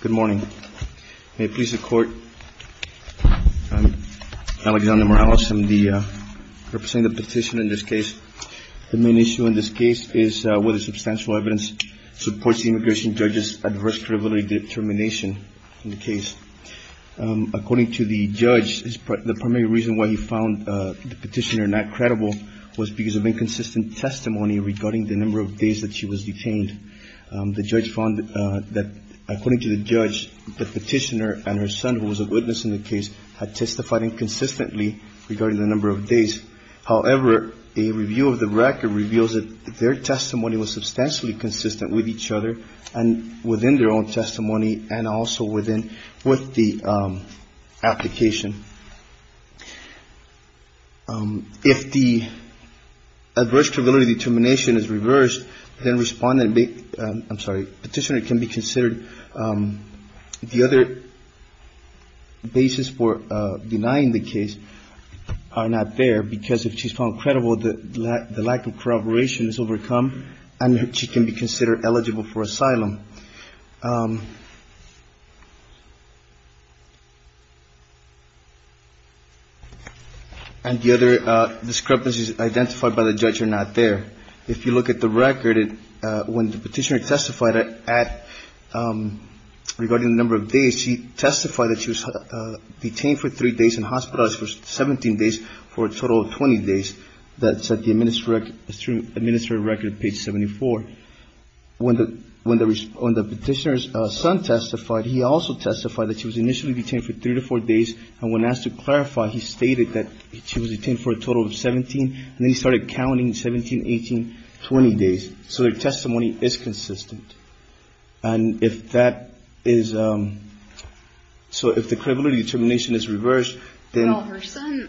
Good morning. May it please the court. I'm Alexander Morales. I'm the representative of the petition in this case. The main issue in this case is whether substantial evidence supports the immigration judge's adverse credibility determination in the case. According to the judge, the primary reason why he found the petitioner not credible was because of inconsistent testimony regarding the number of days that she was detained. The judge found that, according to the judge, the petitioner and her son, who was a witness in the case, had testified inconsistently regarding the number of days. However, a review of the record reveals that their testimony was substantially consistent with each other and within their own testimony and also within with the application. If the adverse credibility determination is reversed, then respondent, I'm sorry, petitioner can be considered. The other basis for denying the case are not there because if she's found credible, the lack of corroboration is overcome and she can be considered eligible for asylum. And the other discrepancies identified by the judge are not there. If you look at the record, when the petitioner testified regarding the number of days, she testified that she was detained for three days and hospitalized for 17 days for a total of 20 days. That's at the administrative record, page 74. When the petitioner's son testified, he also testified that she was initially detained for three to four days, and when asked to clarify, he stated that she was detained for a total of 17. And then he started counting 17, 18, 20 days. So their testimony is consistent. And if that is so, if the credibility determination is reversed, then ----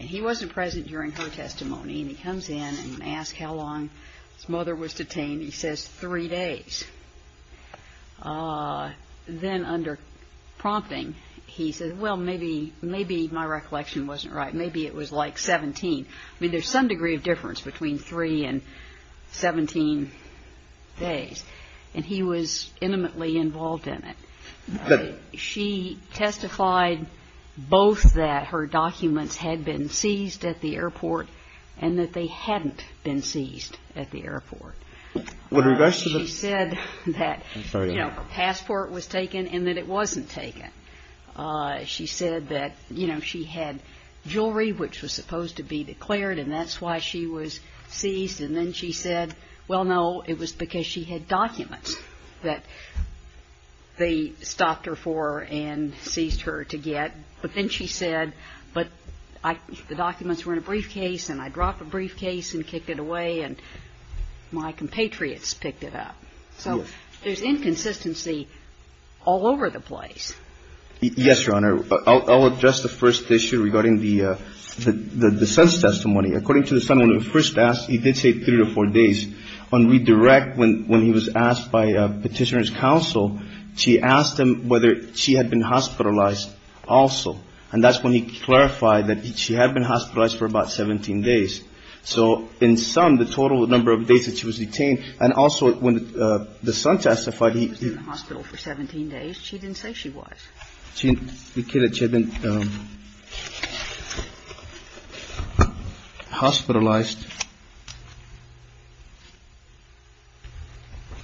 And he wasn't present during her testimony, and he comes in and asks how long his mother was detained. He says three days. Then under prompting, he says, well, maybe my recollection wasn't right. Maybe it was like 17. I mean, there's some degree of difference between three and 17 days. And he was intimately involved in it. She testified both that her documents had been seized at the airport and that they hadn't been seized at the airport. She said that, you know, a passport was taken and that it wasn't taken. She said that, you know, she had jewelry which was supposed to be declared, and that's why she was seized. And then she said, well, no, it was because she had documents that they stopped her for and seized her to get. But then she said, but I ---- the documents were in a briefcase, and I dropped the briefcase and kicked it away, and my compatriots picked it up. So there's inconsistency all over the place. Yes, Your Honor. I'll address the first issue regarding the son's testimony. According to the son, when he was first asked, he did say three to four days. On redirect, when he was asked by Petitioner's Counsel, she asked him whether she had been hospitalized also. And that's when he clarified that she had been hospitalized for about 17 days. So in sum, the total number of days that she was detained, and also when the son testified, he ---- He was in the hospital for 17 days. She didn't say she was. She indicated she had been hospitalized.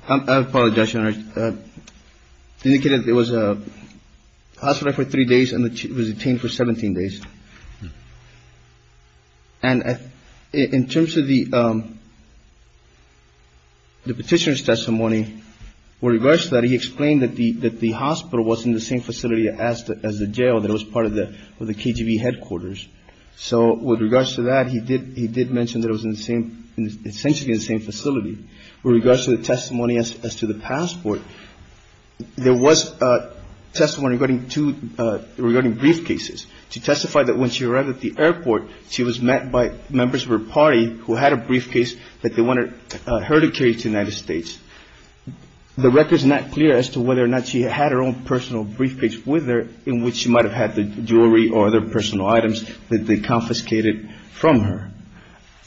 I apologize, Your Honor. It indicated it was hospitalized for three days and that she was detained for 17 days. And in terms of the Petitioner's testimony, with regards to that, he explained that the hospital was in the same facility as the jail that was part of the KGB headquarters. So with regards to that, he did mention that it was in the same ---- essentially in the same facility. With regards to the testimony as to the passport, there was testimony regarding briefcases. She testified that when she arrived at the airport, she was met by members of her party who had a briefcase that they wanted her to carry to the United States. The record is not clear as to whether or not she had her own personal briefcase with her, in which she might have had the jewelry or other personal items that they confiscated from her.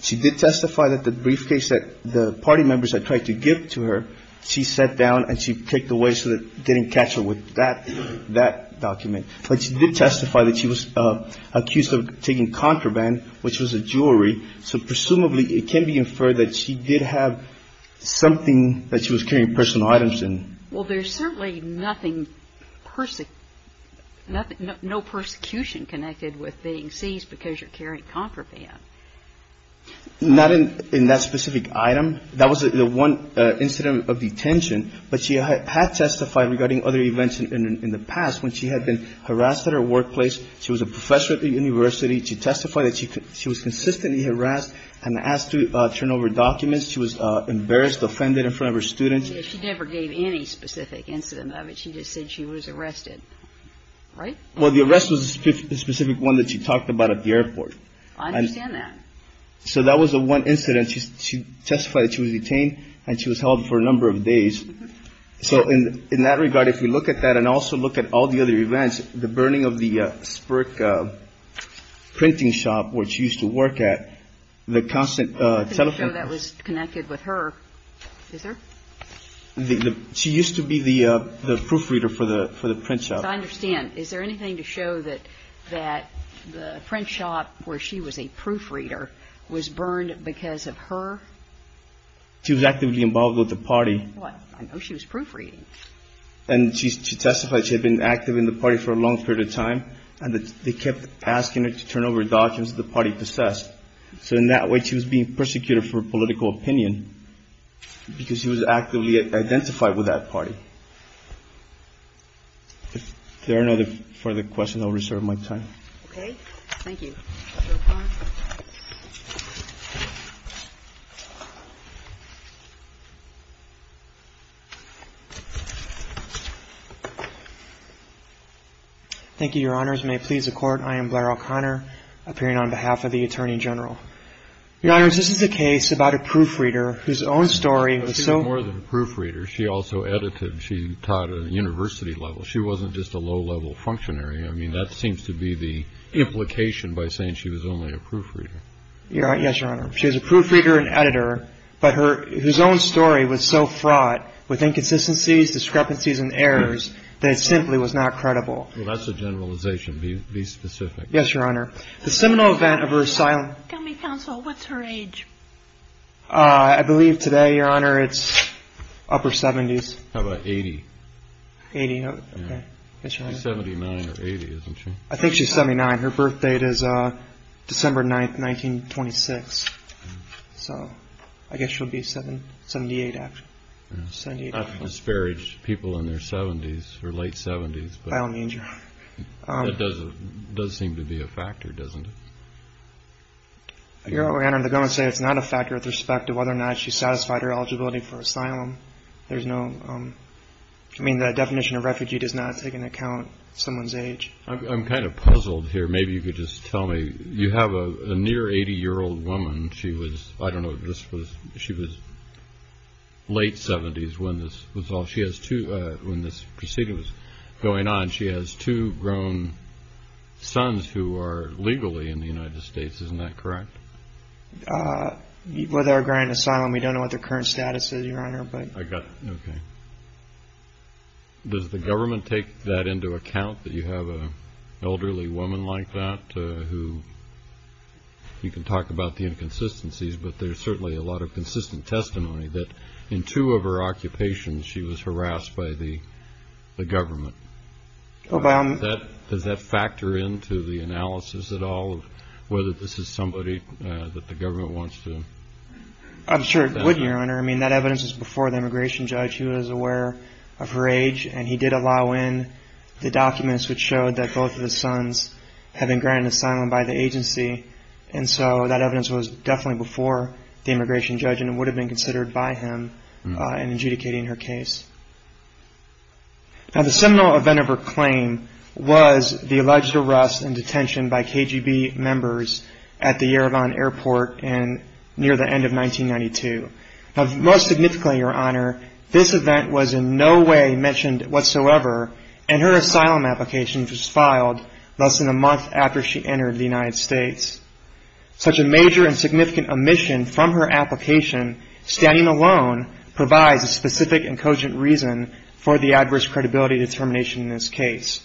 She did testify that the briefcase that the party members had tried to give to her, she sat down and she picked away so that they didn't catch her with that document. But she did testify that she was accused of taking contraband, which was the jewelry. So presumably it can be inferred that she did have something that she was carrying personal items in. Well, there's certainly nothing, no persecution connected with being seized because you're carrying contraband. Not in that specific item. That was the one incident of detention. But she had testified regarding other events in the past when she had been harassed at her workplace. She was a professor at the university. She testified that she was consistently harassed and asked to turn over documents. She was embarrassed, offended in front of her students. She never gave any specific incident of it. She just said she was arrested, right? Well, the arrest was a specific one that she talked about at the airport. I understand that. So that was the one incident. And she testified that she was detained and she was held for a number of days. So in that regard, if you look at that and also look at all the other events, the burning of the Spirk printing shop, which she used to work at, the constant telephone. That was connected with her. Is there? She used to be the proofreader for the print shop. As I understand, is there anything to show that the print shop where she was a proofreader was burned because of her? She was actively involved with the party. Well, I know she was proofreading. And she testified she had been active in the party for a long period of time and that they kept asking her to turn over documents that the party possessed. So in that way, she was being persecuted for political opinion because she was actively identified with that party. If there are no further questions, I'll reserve my time. Okay. Thank you. Thank you, Your Honors. May it please the Court. I am Blair O'Connor, appearing on behalf of the Attorney General. Your Honors, this is a case about a proofreader whose own story was so. More than a proofreader, she also edited. She taught at a university level. She wasn't just a low-level functionary. I mean, that seems to be the implication by saying she was only a proofreader. Yes, Your Honor. She was a proofreader and editor, but her own story was so fraught with inconsistencies, discrepancies and errors that it simply was not credible. Well, that's a generalization. Be specific. Yes, Your Honor. The seminal event of her asylum. Tell me, counsel, what's her age? I believe today, Your Honor, it's upper 70s. How about 80? 80, okay. Yes, Your Honor. She's 79 or 80, isn't she? I think she's 79. Her birth date is December 9th, 1926. So I guess she'll be 78 after. I've disparaged people in their 70s or late 70s. By all means, Your Honor. That does seem to be a factor, doesn't it? Your Honor, the government says it's not a factor with respect to whether or not she satisfied her eligibility for asylum. There's no, I mean, the definition of refugee does not take into account someone's age. I'm kind of puzzled here. Maybe you could just tell me. You have a near 80-year-old woman. She was, I don't know if this was, she was late 70s when this was all, when this proceeding was going on. And she has two grown sons who are legally in the United States. Isn't that correct? With our grand asylum, we don't know what their current status is, Your Honor. I got it. Okay. Does the government take that into account that you have an elderly woman like that who, you can talk about the inconsistencies, but there's certainly a lot of consistent testimony that in two of her occupations, she was harassed by the government. Does that factor into the analysis at all of whether this is somebody that the government wants to? I'm sure it would, Your Honor. I mean, that evidence was before the immigration judge. He was aware of her age, and he did allow in the documents which showed that both of his sons had been granted asylum by the agency. And so that evidence was definitely before the immigration judge, and it would have been considered by him in adjudicating her case. Now, the seminal event of her claim was the alleged arrest and detention by KGB members at the Yerevan airport near the end of 1992. Now, most significantly, Your Honor, this event was in no way mentioned whatsoever, and her asylum application was filed less than a month after she entered the United States. Such a major and significant omission from her application, standing alone, provides a specific and cogent reason for the adverse credibility determination in this case.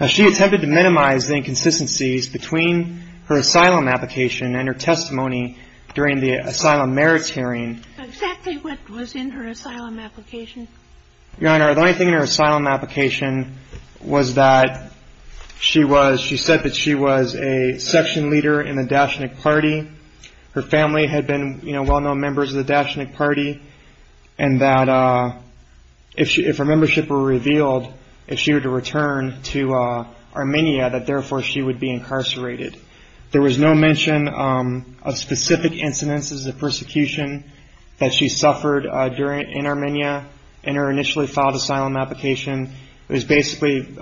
Now, she attempted to minimize the inconsistencies between her asylum application and her testimony during the asylum merits hearing. Exactly what was in her asylum application? Your Honor, the only thing in her asylum application was that she said that she was a section leader in the Dashnik party. Her family had been well-known members of the Dashnik party, and that if her membership were revealed, if she were to return to Armenia, that therefore she would be incarcerated. There was no mention of specific incidences of persecution that she suffered in Armenia in her initially filed asylum application. It was basically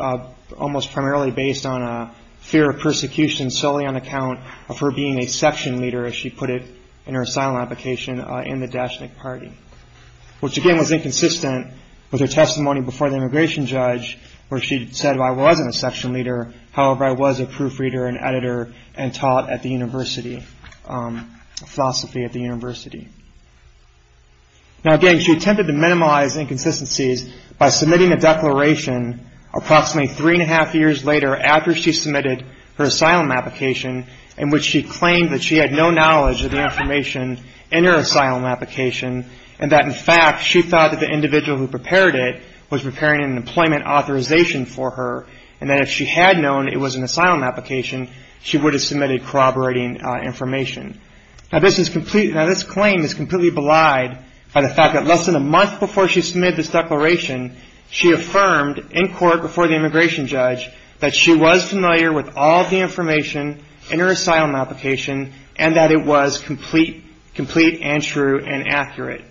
almost primarily based on a fear of persecution solely on account of her being a section leader, as she put it in her asylum application, in the Dashnik party, which again was inconsistent with her testimony before the immigration judge where she said, however, I was a proofreader and editor and taught at the university, philosophy at the university. Now, again, she attempted to minimize inconsistencies by submitting a declaration approximately three and a half years later after she submitted her asylum application in which she claimed that she had no knowledge of the information in her asylum application, and that, in fact, she thought that the individual who prepared it was preparing an employment authorization for her, and that if she had known it was an asylum application, she would have submitted corroborating information. Now, this claim is completely belied by the fact that less than a month before she submitted this declaration, she affirmed in court before the immigration judge that she was familiar with all the information in her asylum application and that it was complete and true and accurate.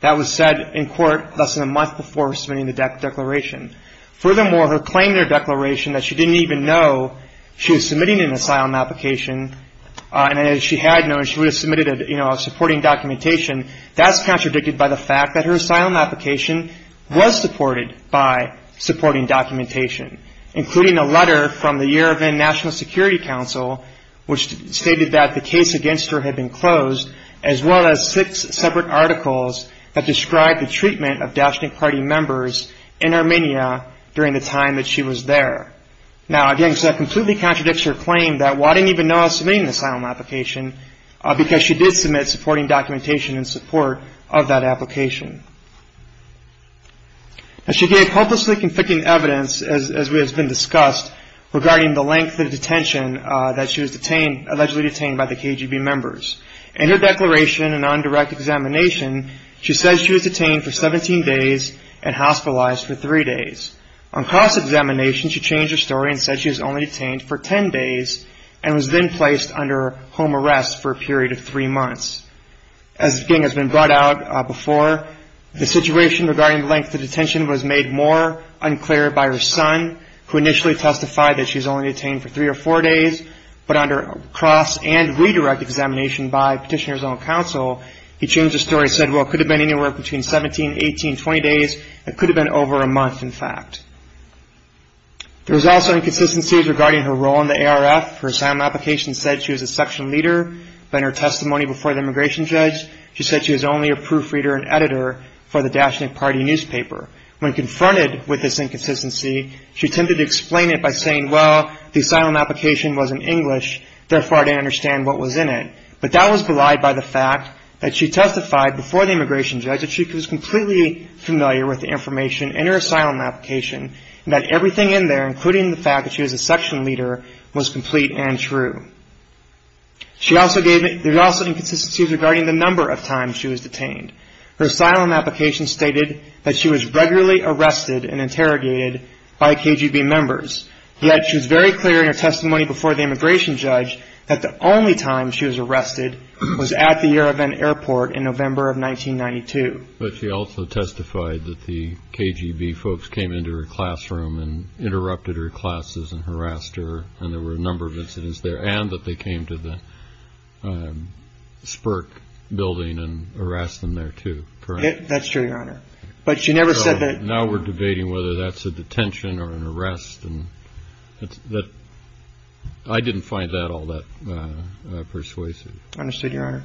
That was said in court less than a month before submitting the declaration. Furthermore, her claim in her declaration that she didn't even know she was submitting an asylum application and that she had known she would have submitted a supporting documentation, that's contradicted by the fact that her asylum application was supported by supporting documentation, including a letter from the Yerevan National Security Council, which stated that the case against her had been closed, as well as six separate articles that described the treatment of Daeshnik Party members in Armenia during the time that she was there. Now, again, that completely contradicts her claim that, well, I didn't even know I was submitting an asylum application, because she did submit supporting documentation in support of that application. She gave hopelessly conflicting evidence, as has been discussed, regarding the length of detention that she was allegedly detained by the KGB members. In her declaration and on direct examination, she said she was detained for 17 days and hospitalized for three days. On cross-examination, she changed her story and said she was only detained for 10 days and was then placed under home arrest for a period of three months. As has been brought out before, the situation regarding the length of detention was made more unclear by her son, who initially testified that she was only detained for three or four days, but under cross- and redirect-examination by petitioners on counsel, he changed the story and said, well, it could have been anywhere between 17, 18, 20 days. It could have been over a month, in fact. There was also inconsistencies regarding her role in the ARF. Her asylum application said she was a section leader, but in her testimony before the immigration judge, she said she was only a proofreader and editor for the Dashnik Party newspaper. When confronted with this inconsistency, she attempted to explain it by saying, well, the asylum application was in English, therefore I didn't understand what was in it. But that was belied by the fact that she testified before the immigration judge that she was completely familiar with the information in her asylum application and that everything in there, including the fact that she was a section leader, was complete and true. There were also inconsistencies regarding the number of times she was detained. Her asylum application stated that she was regularly arrested and interrogated by KGB members, yet she was very clear in her testimony before the immigration judge that the only time she was arrested was at the Yerevan airport in November of 1992. But she also testified that the KGB folks came into her classroom and interrupted her classes and harassed her, and there were a number of incidents there, and that they came to the Spirk building and harassed them there, too, correct? That's true, Your Honor. But she never said that. So now we're debating whether that's a detention or an arrest, and I didn't find that all that persuasive. Understood, Your Honor.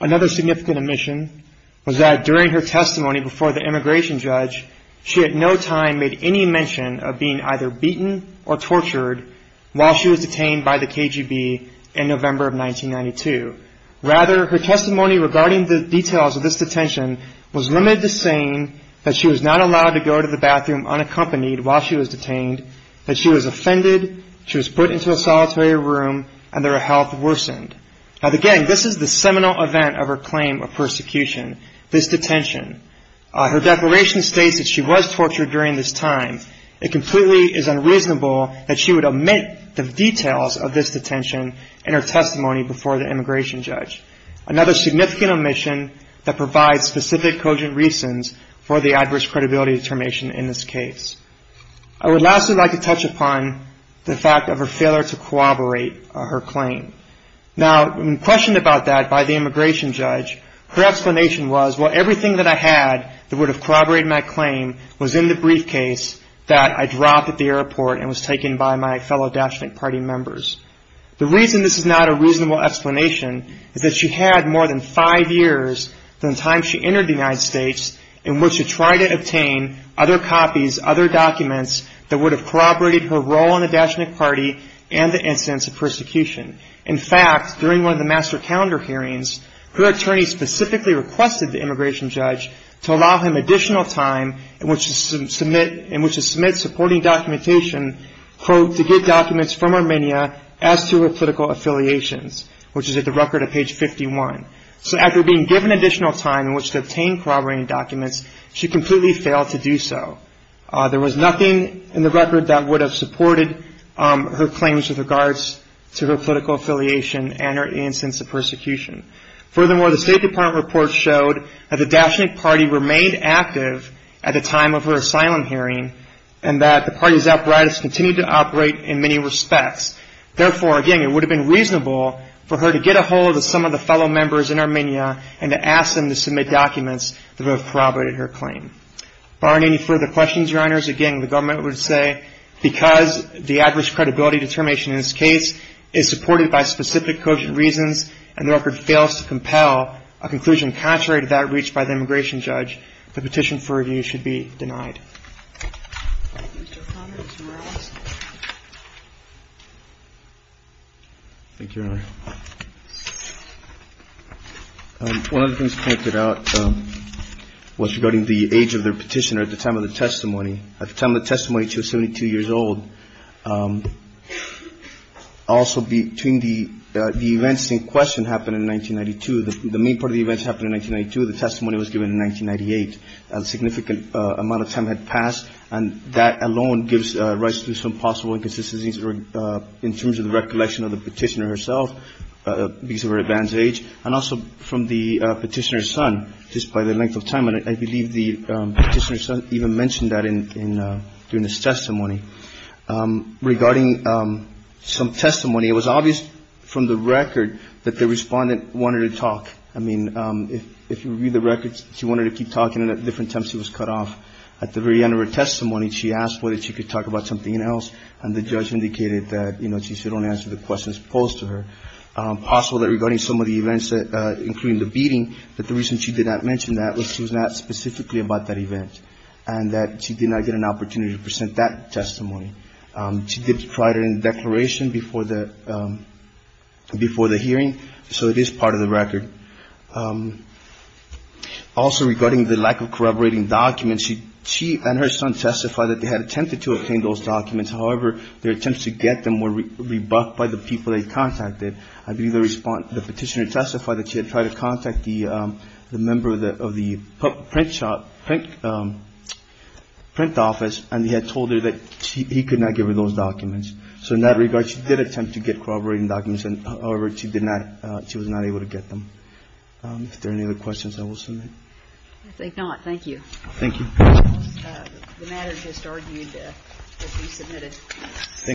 Another significant omission was that during her testimony before the immigration judge, she at no time made any mention of being either beaten or tortured while she was detained by the KGB in November of 1992. Rather, her testimony regarding the details of this detention was limited to saying that she was not allowed to go to the bathroom unaccompanied while she was detained, that she was offended, she was put into a solitary room, and their health worsened. Now, again, this is the seminal event of her claim of persecution, this detention. Her declaration states that she was tortured during this time. It completely is unreasonable that she would omit the details of this detention in her testimony before the immigration judge, another significant omission that provides specific cogent reasons for the adverse credibility determination in this case. I would lastly like to touch upon the fact of her failure to corroborate her claim. Now, when questioned about that by the immigration judge, her explanation was, well, everything that I had that would have corroborated my claim was in the briefcase that I dropped at the airport and was taken by my fellow Dachinic Party members. The reason this is not a reasonable explanation is that she had more than five years from the time she entered the United States in which to try to obtain other copies, other documents that would have corroborated her role in the Dachinic Party and the incidents of persecution. In fact, during one of the master calendar hearings, her attorney specifically requested the immigration judge to allow him additional time in which to submit supporting documentation, quote, to get documents from Armenia as to her political affiliations, which is at the record of page 51. So after being given additional time in which to obtain corroborating documents, she completely failed to do so. There was nothing in the record that would have supported her claims with regards to her political affiliation and her incidents of persecution. Furthermore, the State Department report showed that the Dachinic Party remained active at the time of her asylum hearing and that the party's apparatus continued to operate in many respects. Therefore, again, it would have been reasonable for her to get a hold of some of the fellow members in Armenia and to ask them to submit documents that would have corroborated her claim. Barring any further questions, Your Honors, again, the government would say because the adverse credibility determination in this case is supported by specific cogent reasons and the record fails to compel a conclusion contrary to that reached by the immigration judge, the petition for review should be denied. Thank you, Your Honor. One of the things pointed out was regarding the age of the petitioner at the time of the testimony. At the time of the testimony, she was 72 years old. Also, between the events in question happened in 1992. The main part of the events happened in 1992. The testimony was given in 1998. A significant amount of time had passed, and that alone gives rise to some possible inconsistencies in terms of the recollection of the petitioner herself because of her advanced age and also from the petitioner's son just by the length of time. And I believe the petitioner's son even mentioned that during his testimony. Regarding some testimony, it was obvious from the record that the Respondent wanted to talk. I mean, if you read the records, she wanted to keep talking, and at different times she was cut off at the very end of her testimony. She asked whether she could talk about something else, and the judge indicated that she should only answer the questions posed to her. Possible that regarding some of the events, including the beating, that the reason she did not mention that was she was not specifically about that event and that she did not get an opportunity to present that testimony. She did provide it in the declaration before the hearing, so it is part of the record. Also, regarding the lack of corroborating documents, she and her son testified that they had attempted to obtain those documents. However, their attempts to get them were rebuffed by the people they contacted. I believe the petitioner testified that she had tried to contact the member of the print shop, print office, and he had told her that he could not give her those documents. So in that regard, she did attempt to get corroborating documents, and, however, she was not able to get them. If there are any other questions, I will submit. I think not. Thank you. Thank you. The matter just argued to be submitted.